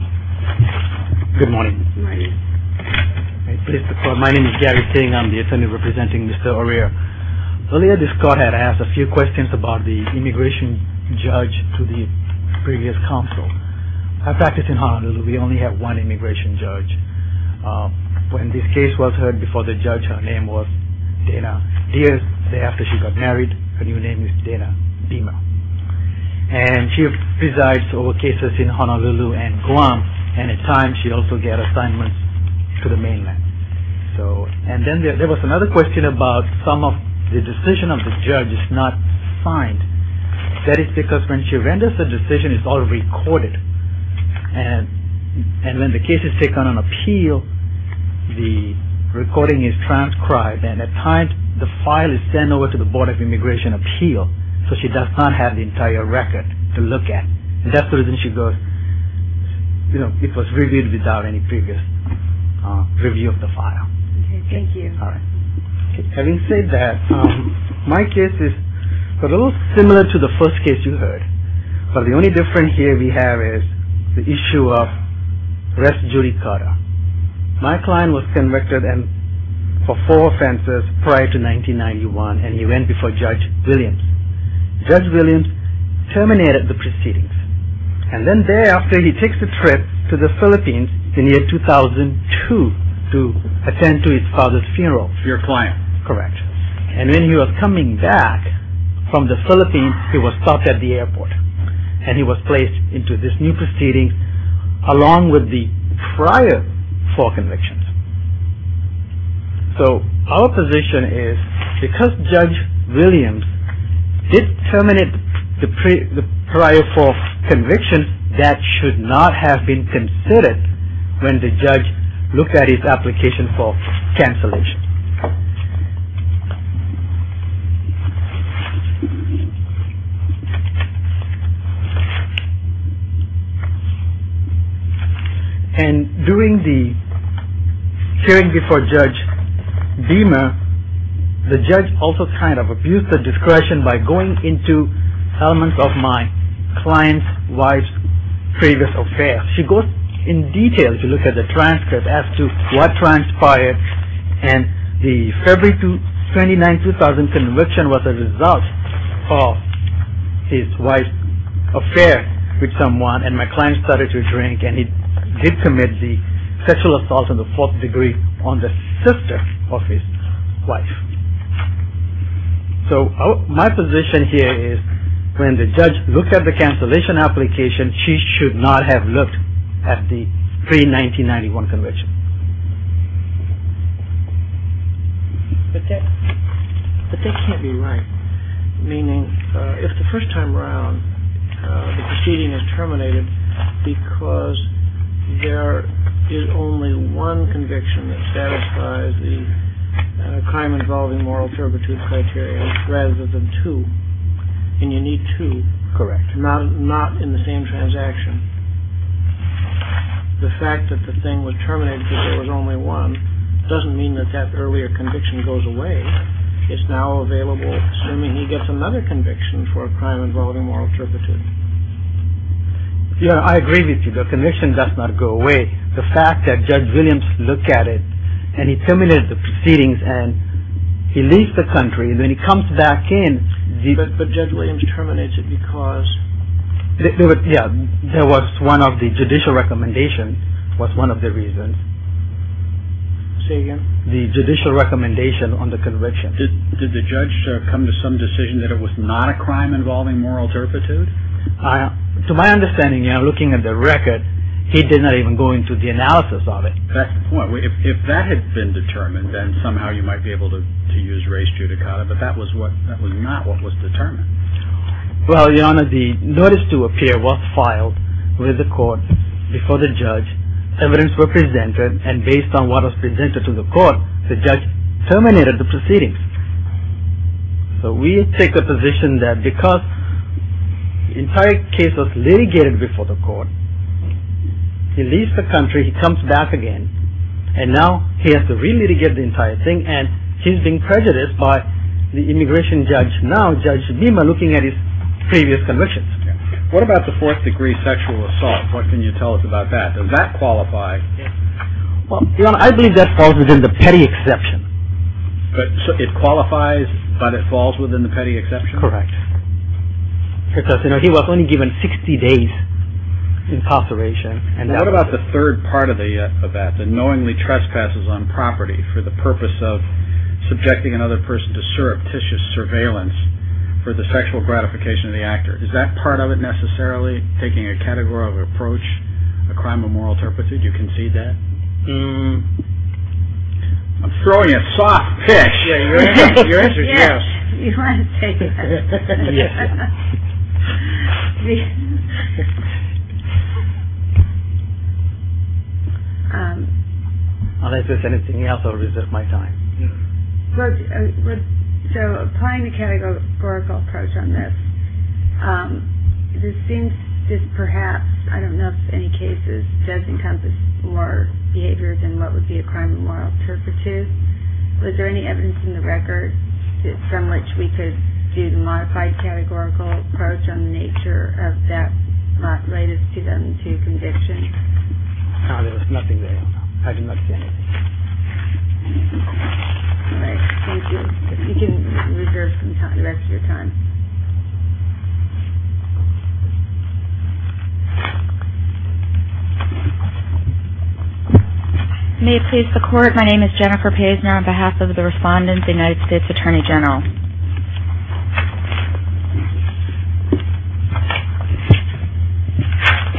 Good morning. My name is Gary Ting. I'm the attorney representing Mr. Oria. Earlier this court had asked a few questions about the immigration judge to the previous counsel. At practice in Honolulu, we only have one immigration judge. When this case was heard before the judge, her name was Dana Diaz. The day after she got married, her new name is Dana Dima. And she presides over cases in Honolulu and Guam. And at times, she also gets assignments to the mainland. And then there was another question about some of the decisions of the judge is not signed. That is because when she renders a decision, it's all recorded. And when the case is taken on appeal, the recording is transcribed. And at times, the file is sent over to the Board of Immigration Appeal. So she does not have the entire record to look at. And that's the reason she goes, you know, it was reviewed without any previous review of the file. Okay. Thank you. All right. Having said that, my case is a little similar to the first case you heard. But the only difference here we have is the issue of rest judicata. My client was convicted for four offenses prior to 1991. And he went before Judge Williams. Judge Williams terminated the proceedings. And then thereafter, he takes a trip to the Philippines in the year 2002 to attend to his father's funeral. Your client. Correct. And when he was coming back from the Philippines, he was stopped at the airport. And he was placed into this new proceeding along with the prior four convictions. So our position is because Judge Williams did terminate the prior four convictions, that should not have been considered when the judge looked at his application for cancellation. And during the hearing before Judge Beamer, the judge also kind of abused the discretion by going into elements of my client's wife's previous affair. She goes in detail to look at the transcript as to what transpired. And the February 29, 2000 conviction was a result of his wife's affair with someone. And my client started to drink. And he did commit the sexual assault in the fourth degree on the sister of his wife. So my position here is when the judge looked at the cancellation application, she should not have looked at the pre-1991 conviction. But that can't be right. Meaning if the first time around, the proceeding is terminated because there is only one conviction that satisfies the crime involving moral turpitude criteria rather than two. And you need to correct not not in the same transaction. The fact that the thing was terminated because there was only one doesn't mean that that earlier conviction goes away. It's now available assuming he gets another conviction for a crime involving moral turpitude. Yeah, I agree with you. The conviction does not go away. The fact that Judge Williams looked at it and he terminated the proceedings and he leaves the country. Then he comes back in. But Judge Williams terminates it because. Yeah, there was one of the judicial recommendations was one of the reasons. Say again. The judicial recommendation on the conviction. Did the judge come to some decision that it was not a crime involving moral turpitude? To my understanding, you're looking at the record. He did not even go into the analysis of it. That's the point. If that had been determined, then somehow you might be able to use race judicata. But that was what that was not what was determined. Well, your Honor, the notice to appear was filed with the court before the judge. Evidence was presented. And based on what was presented to the court, the judge terminated the proceedings. So we take a position that because the entire case was litigated before the court. He leaves the country. He comes back again. And now he has to re-litigate the entire thing. And he's being prejudiced by the immigration judge. Now Judge Bhima looking at his previous convictions. What about the fourth degree sexual assault? What can you tell us about that? Does that qualify? Your Honor, I believe that falls within the petty exception. It qualifies, but it falls within the petty exception? Correct. Because he was only given 60 days imposteration. And what about the third part of that? The knowingly trespasses on property for the purpose of subjecting another person to surreptitious surveillance for the sexual gratification of the actor. Is that part of it necessarily taking a categorical approach, a crime of moral turpitude? You concede that? I'm throwing a soft pitch. Your answer is yes. Unless there's anything else, I'll resist my time. So applying the categorical approach on this, this seems just perhaps I don't know if any cases does encompass more behavior than what would be a crime of moral turpitude. Was there any evidence in the record from which we could do the modified categorical approach on the nature of that latest 2002 conviction? There was nothing there. I did not see anything. All right. Thank you. You can reserve some time, the rest of your time. May it please the Court, my name is Jennifer Paisner on behalf of the respondent, the United States Attorney General.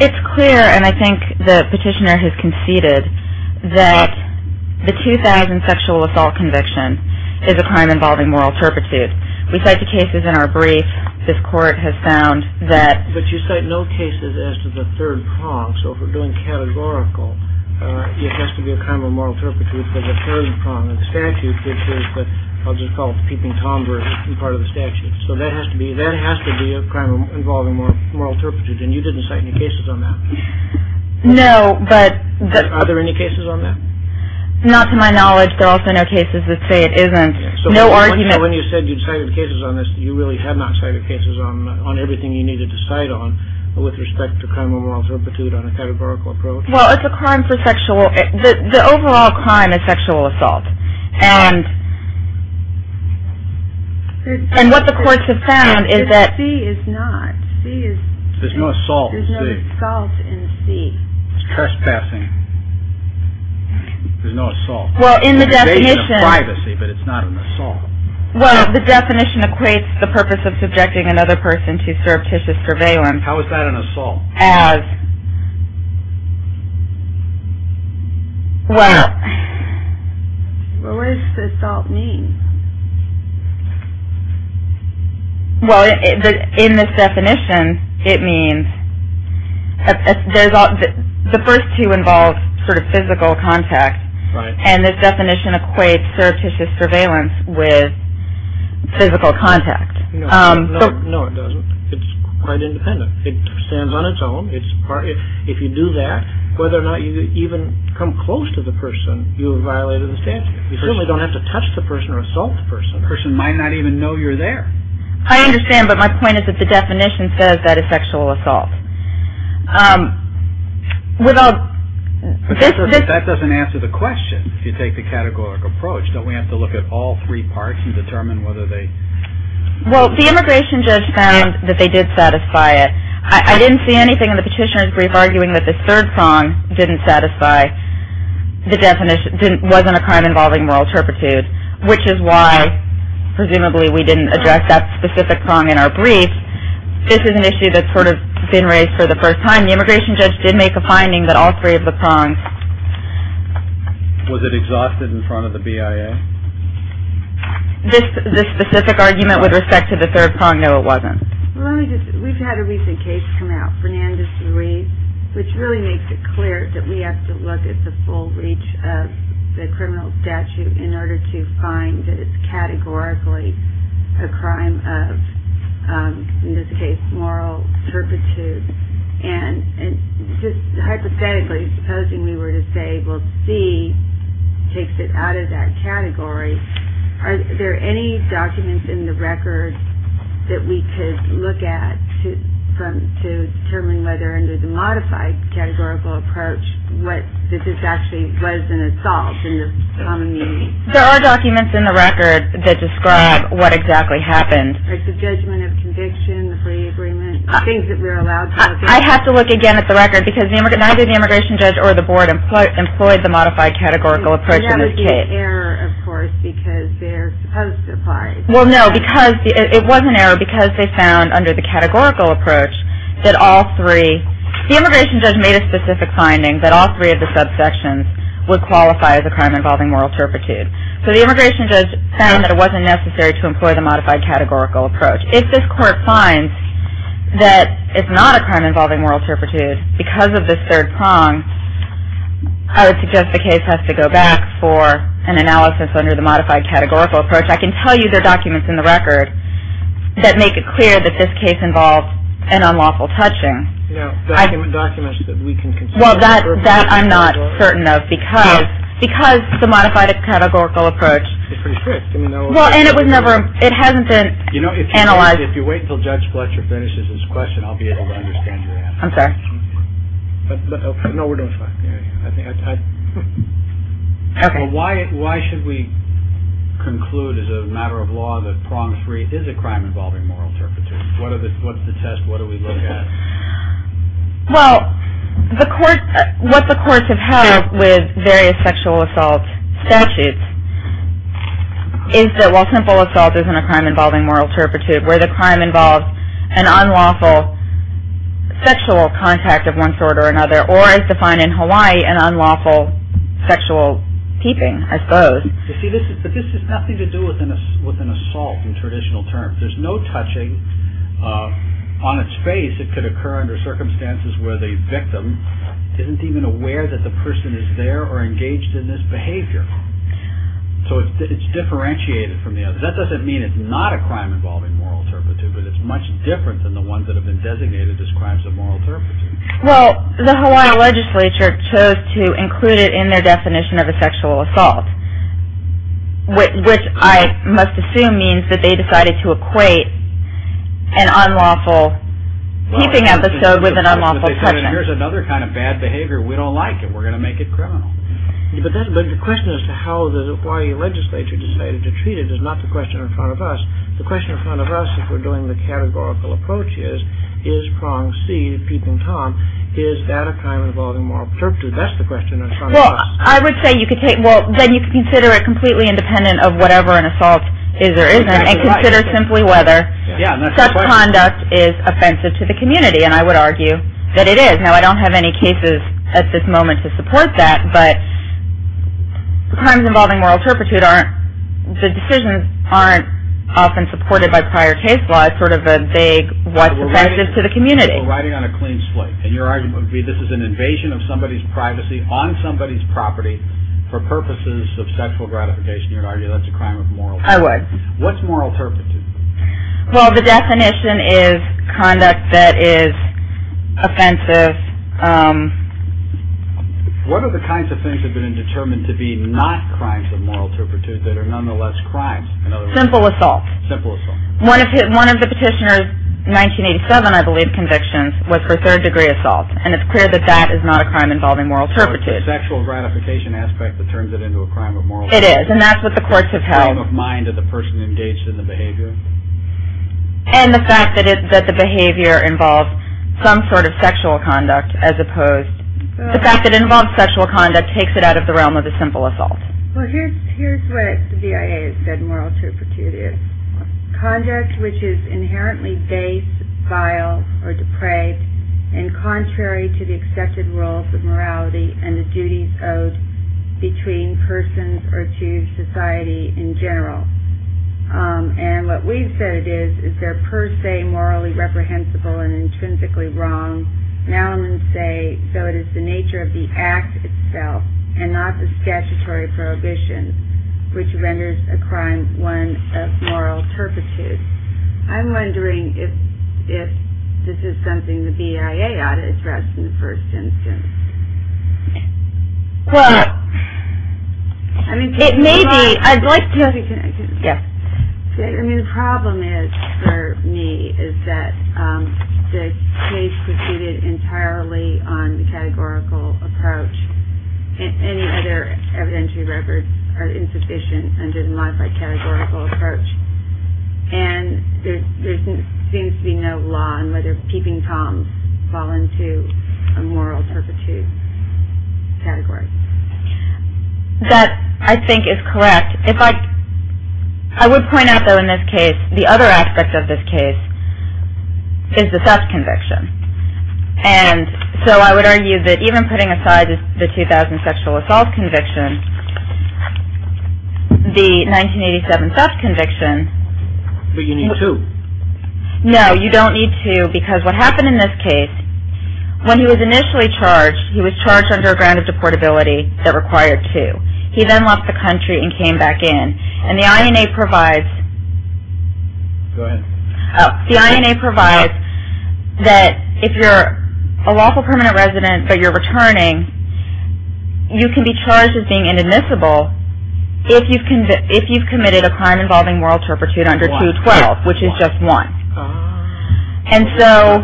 It's clear, and I think the petitioner has conceded, that the 2000 sexual assault conviction is a crime involving moral turpitude. We cite the cases in our brief. This Court has found that. But you cite no cases as to the third prong. So if we're doing categorical, it has to be a crime of moral turpitude for the third prong of the statute, which is what I'll just call peeping Tomber as part of the statute. So that has to be, that has to be a crime involving moral turpitude. And you didn't cite any cases on that? No, but. Are there any cases on that? Not to my knowledge. There are also no cases that say it isn't. No argument. So when you said you cited cases on this, you really have not cited cases on everything you needed to cite on with respect to crime of moral turpitude on a categorical approach? Well, it's a crime for sexual, the overall crime is sexual assault. And what the courts have found is that. C is not. C is. There's no assault in C. There's no assault in C. It's trespassing. There's no assault. Well, in the definition. It's a crime of privacy, but it's not an assault. Well, the definition equates the purpose of subjecting another person to surreptitious surveillance. How is that an assault? As. Well. What does assault mean? Well, in this definition, it means. The first two involve sort of physical contact. Right. And this definition equates surreptitious surveillance with physical contact. No, it doesn't. It's quite independent. It stands on its own. If you do that, whether or not you even come close to the person, you have violated the statute. You certainly don't have to touch the person or assault the person. The person might not even know you're there. I understand, but my point is that the definition says that is sexual assault. Without. That doesn't answer the question, if you take the categorical approach. Don't we have to look at all three parts and determine whether they. Well, the immigration judge found that they did satisfy it. I didn't see anything in the petitioner's brief arguing that this third prong didn't satisfy the definition. It wasn't a crime involving moral turpitude, which is why, presumably, we didn't address that specific prong in our brief. This is an issue that's sort of been raised for the first time. The immigration judge did make a finding that all three of the prongs. Was it exhausted in front of the BIA? This specific argument with respect to the third prong, no, it wasn't. We've had a recent case come out, Fernandez-Reed, which really makes it clear that we have to look at the full reach of the criminal statute in order to find that it's categorically a crime of, in this case, moral turpitude. And just hypothetically, supposing we were to say, well, C takes it out of that category, are there any documents in the record that we could look at to determine whether, under the modified categorical approach, that this actually was an assault in the common meaning? There are documents in the record that describe what exactly happened. Like the judgment of conviction, the free agreement, things that we're allowed to look at. I have to look again at the record because neither the immigration judge or the board employed the modified categorical approach in this case. That would be an error, of course, because they're supposed to apply it. Well, no, because it was an error because they found under the categorical approach that all three, the immigration judge made a specific finding that all three of the subsections would qualify as a crime involving moral turpitude. So the immigration judge found that it wasn't necessary to employ the modified categorical approach. If this court finds that it's not a crime involving moral turpitude because of this third prong, I would suggest the case has to go back for an analysis under the modified categorical approach. I can tell you there are documents in the record that make it clear that this case involved an unlawful touching. You know, documents that we can consider. Well, that I'm not certain of because the modified categorical approach. It's pretty strict. Well, and it was never, it hasn't been analyzed. If you wait until Judge Fletcher finishes his question, I'll be able to understand your answer. I'm sorry. No, we're doing fine. Why should we conclude as a matter of law that prong three is a crime involving moral turpitude? What's the test? What do we look at? Well, what the courts have held with various sexual assault statutes is that while simple assault isn't a crime involving moral turpitude, where the crime involves an unlawful sexual contact of one sort or another, or as defined in Hawaii, an unlawful sexual keeping, I suppose. You see, but this has nothing to do with an assault in traditional terms. There's no touching on its face. It could occur under circumstances where the victim isn't even aware that the person is there or engaged in this behavior. So it's differentiated from the other. That doesn't mean it's not a crime involving moral turpitude, but it's much different than the ones that have been designated as crimes of moral turpitude. Well, the Hawaii legislature chose to include it in their definition of a sexual assault, which I must assume means that they decided to equate an unlawful keeping episode with an unlawful touching. Here's another kind of bad behavior. We don't like it. We're going to make it criminal. But the question as to how the Hawaii legislature decided to treat it is not the question in front of us. The question in front of us, if we're doing the categorical approach is, is prong C, peeping Tom, is that a crime involving moral turpitude? That's the question in front of us. Well, I would say you could take, well, then you could consider it completely independent of whatever an assault is or isn't, and consider simply whether such conduct is offensive to the community, and I would argue that it is. Now, I don't have any cases at this moment to support that, but crimes involving moral turpitude aren't, the decisions aren't often supported by prior case law. It's sort of a vague what's offensive to the community. We're riding on a clean slate, and your argument would be this is an invasion of somebody's privacy on somebody's property for purposes of sexual gratification. You would argue that's a crime of moral turpitude. I would. What's moral turpitude? Well, the definition is conduct that is offensive. What are the kinds of things that have been determined to be not crimes of moral turpitude that are nonetheless crimes? Simple assault. Simple assault. One of the petitioner's 1987, I believe, convictions was for third degree assault, and it's clear that that is not a crime involving moral turpitude. So it's the sexual gratification aspect that turns it into a crime of moral turpitude. It is, and that's what the courts have held. Is it a crime of mind of the person engaged in the behavior? And the fact that the behavior involves some sort of sexual conduct as opposed, the fact that it involves sexual conduct takes it out of the realm of the simple assault. Well, here's what the BIA has said moral turpitude is. Conduct which is inherently base, vile, or depraved, and contrary to the accepted rules of morality and the duties owed between persons or to society in general. And what we've said it is, is they're per se morally reprehensible and intrinsically wrong. Now I'm going to say, so it is the nature of the act itself and not the statutory prohibition, which renders a crime one of moral turpitude. I'm wondering if this is something the BIA ought to address in the first instance. Well, it may be. I'd like to. I mean the problem is for me is that the case proceeded entirely on the categorical approach. Any other evidentiary records are insufficient under the modified categorical approach. And there seems to be no law on whether peeping toms fall into a moral turpitude category. That I think is correct. I would point out though in this case, the other aspect of this case is the theft conviction. And so I would argue that even putting aside the 2000 sexual assault conviction, the 1987 theft conviction. But you need two. No, you don't need two because what happened in this case, when he was initially charged, he was charged under a ground of deportability that required two. He then left the country and came back in. And the INA provides that if you're a lawful permanent resident but you're returning, you can be charged as being inadmissible if you've committed a crime involving moral turpitude under 212, which is just one. And so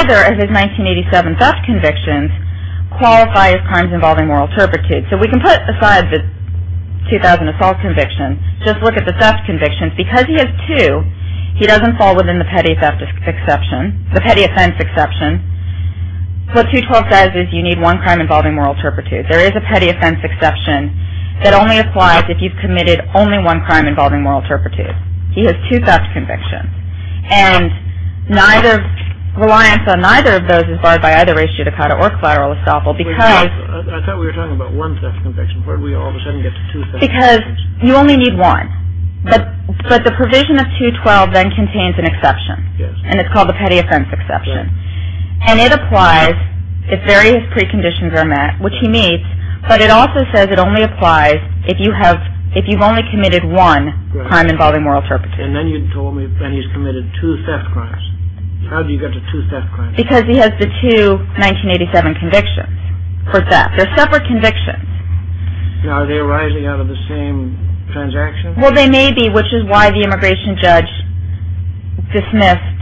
either of his 1987 theft convictions qualify as crimes involving moral turpitude. So we can put aside the 2000 assault conviction, just look at the theft convictions. Because he has two, he doesn't fall within the petty offense exception. What 212 says is you need one crime involving moral turpitude. There is a petty offense exception that only applies if you've committed only one crime involving moral turpitude. He has two theft convictions. And neither, reliance on neither of those is barred by either race judicata or collateral estoppel because. I thought we were talking about one theft conviction. Where did we all of a sudden get to two theft convictions? Because you only need one. But the provision of 212 then contains an exception. Yes. And it's called the petty offense exception. And it applies if various preconditions are met, which he meets. But it also says it only applies if you've only committed one crime involving moral turpitude. And then you told me that he's committed two theft crimes. How do you get to two theft crimes? Because he has the two 1987 convictions for theft. They're separate convictions. Now are they arising out of the same transaction? Well, they may be, which is why the immigration judge dismissed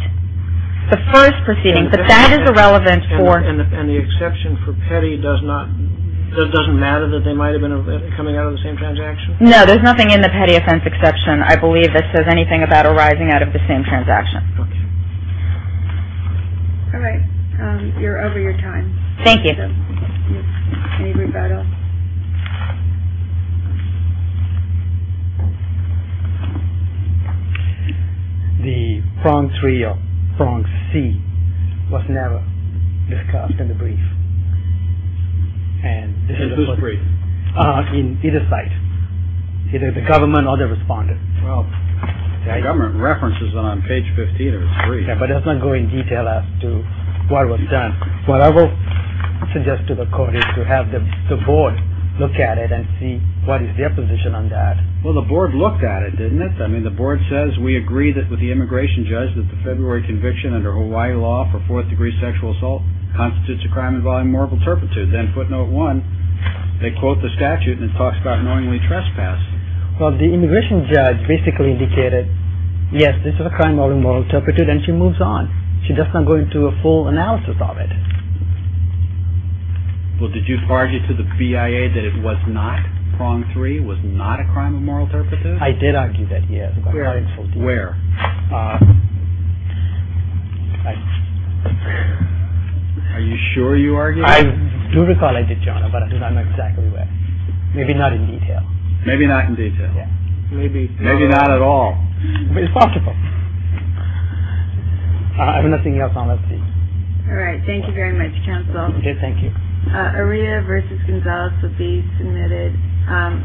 the first proceeding. But that is irrelevant for. And the exception for petty does not, doesn't matter that they might have been coming out of the same transaction? No, there's nothing in the petty offense exception, I believe, that says anything about arising out of the same transaction. Okay. All right. You're over your time. Thank you. Can you bring that up? The prong three or prong C was never discussed in the brief. And this is a brief in either side. Either the government or the responder. Well, government references on page 15 or three. But let's not go in detail as to what was done. What I will suggest to the court is to have the board look at it and see what is their position on that. Well, the board looked at it, didn't it? I mean, the board says we agree with the immigration judge that the February conviction under Hawaii law for fourth degree sexual assault constitutes a crime involving moral turpitude. Then footnote one, they quote the statute and it talks about knowingly trespass. Well, the immigration judge basically indicated, yes, this is a crime involving moral turpitude, and she moves on. She does not go into a full analysis of it. Well, did you argue to the BIA that it was not prong three, was not a crime of moral turpitude? I did argue that, yes. Where? Are you sure you argued that? I do recall I did, John, but I'm not exactly aware. Maybe not in detail. Maybe not in detail. Maybe. Maybe not at all. But it's possible. I have nothing else. All right. Thank you very much. Counsel.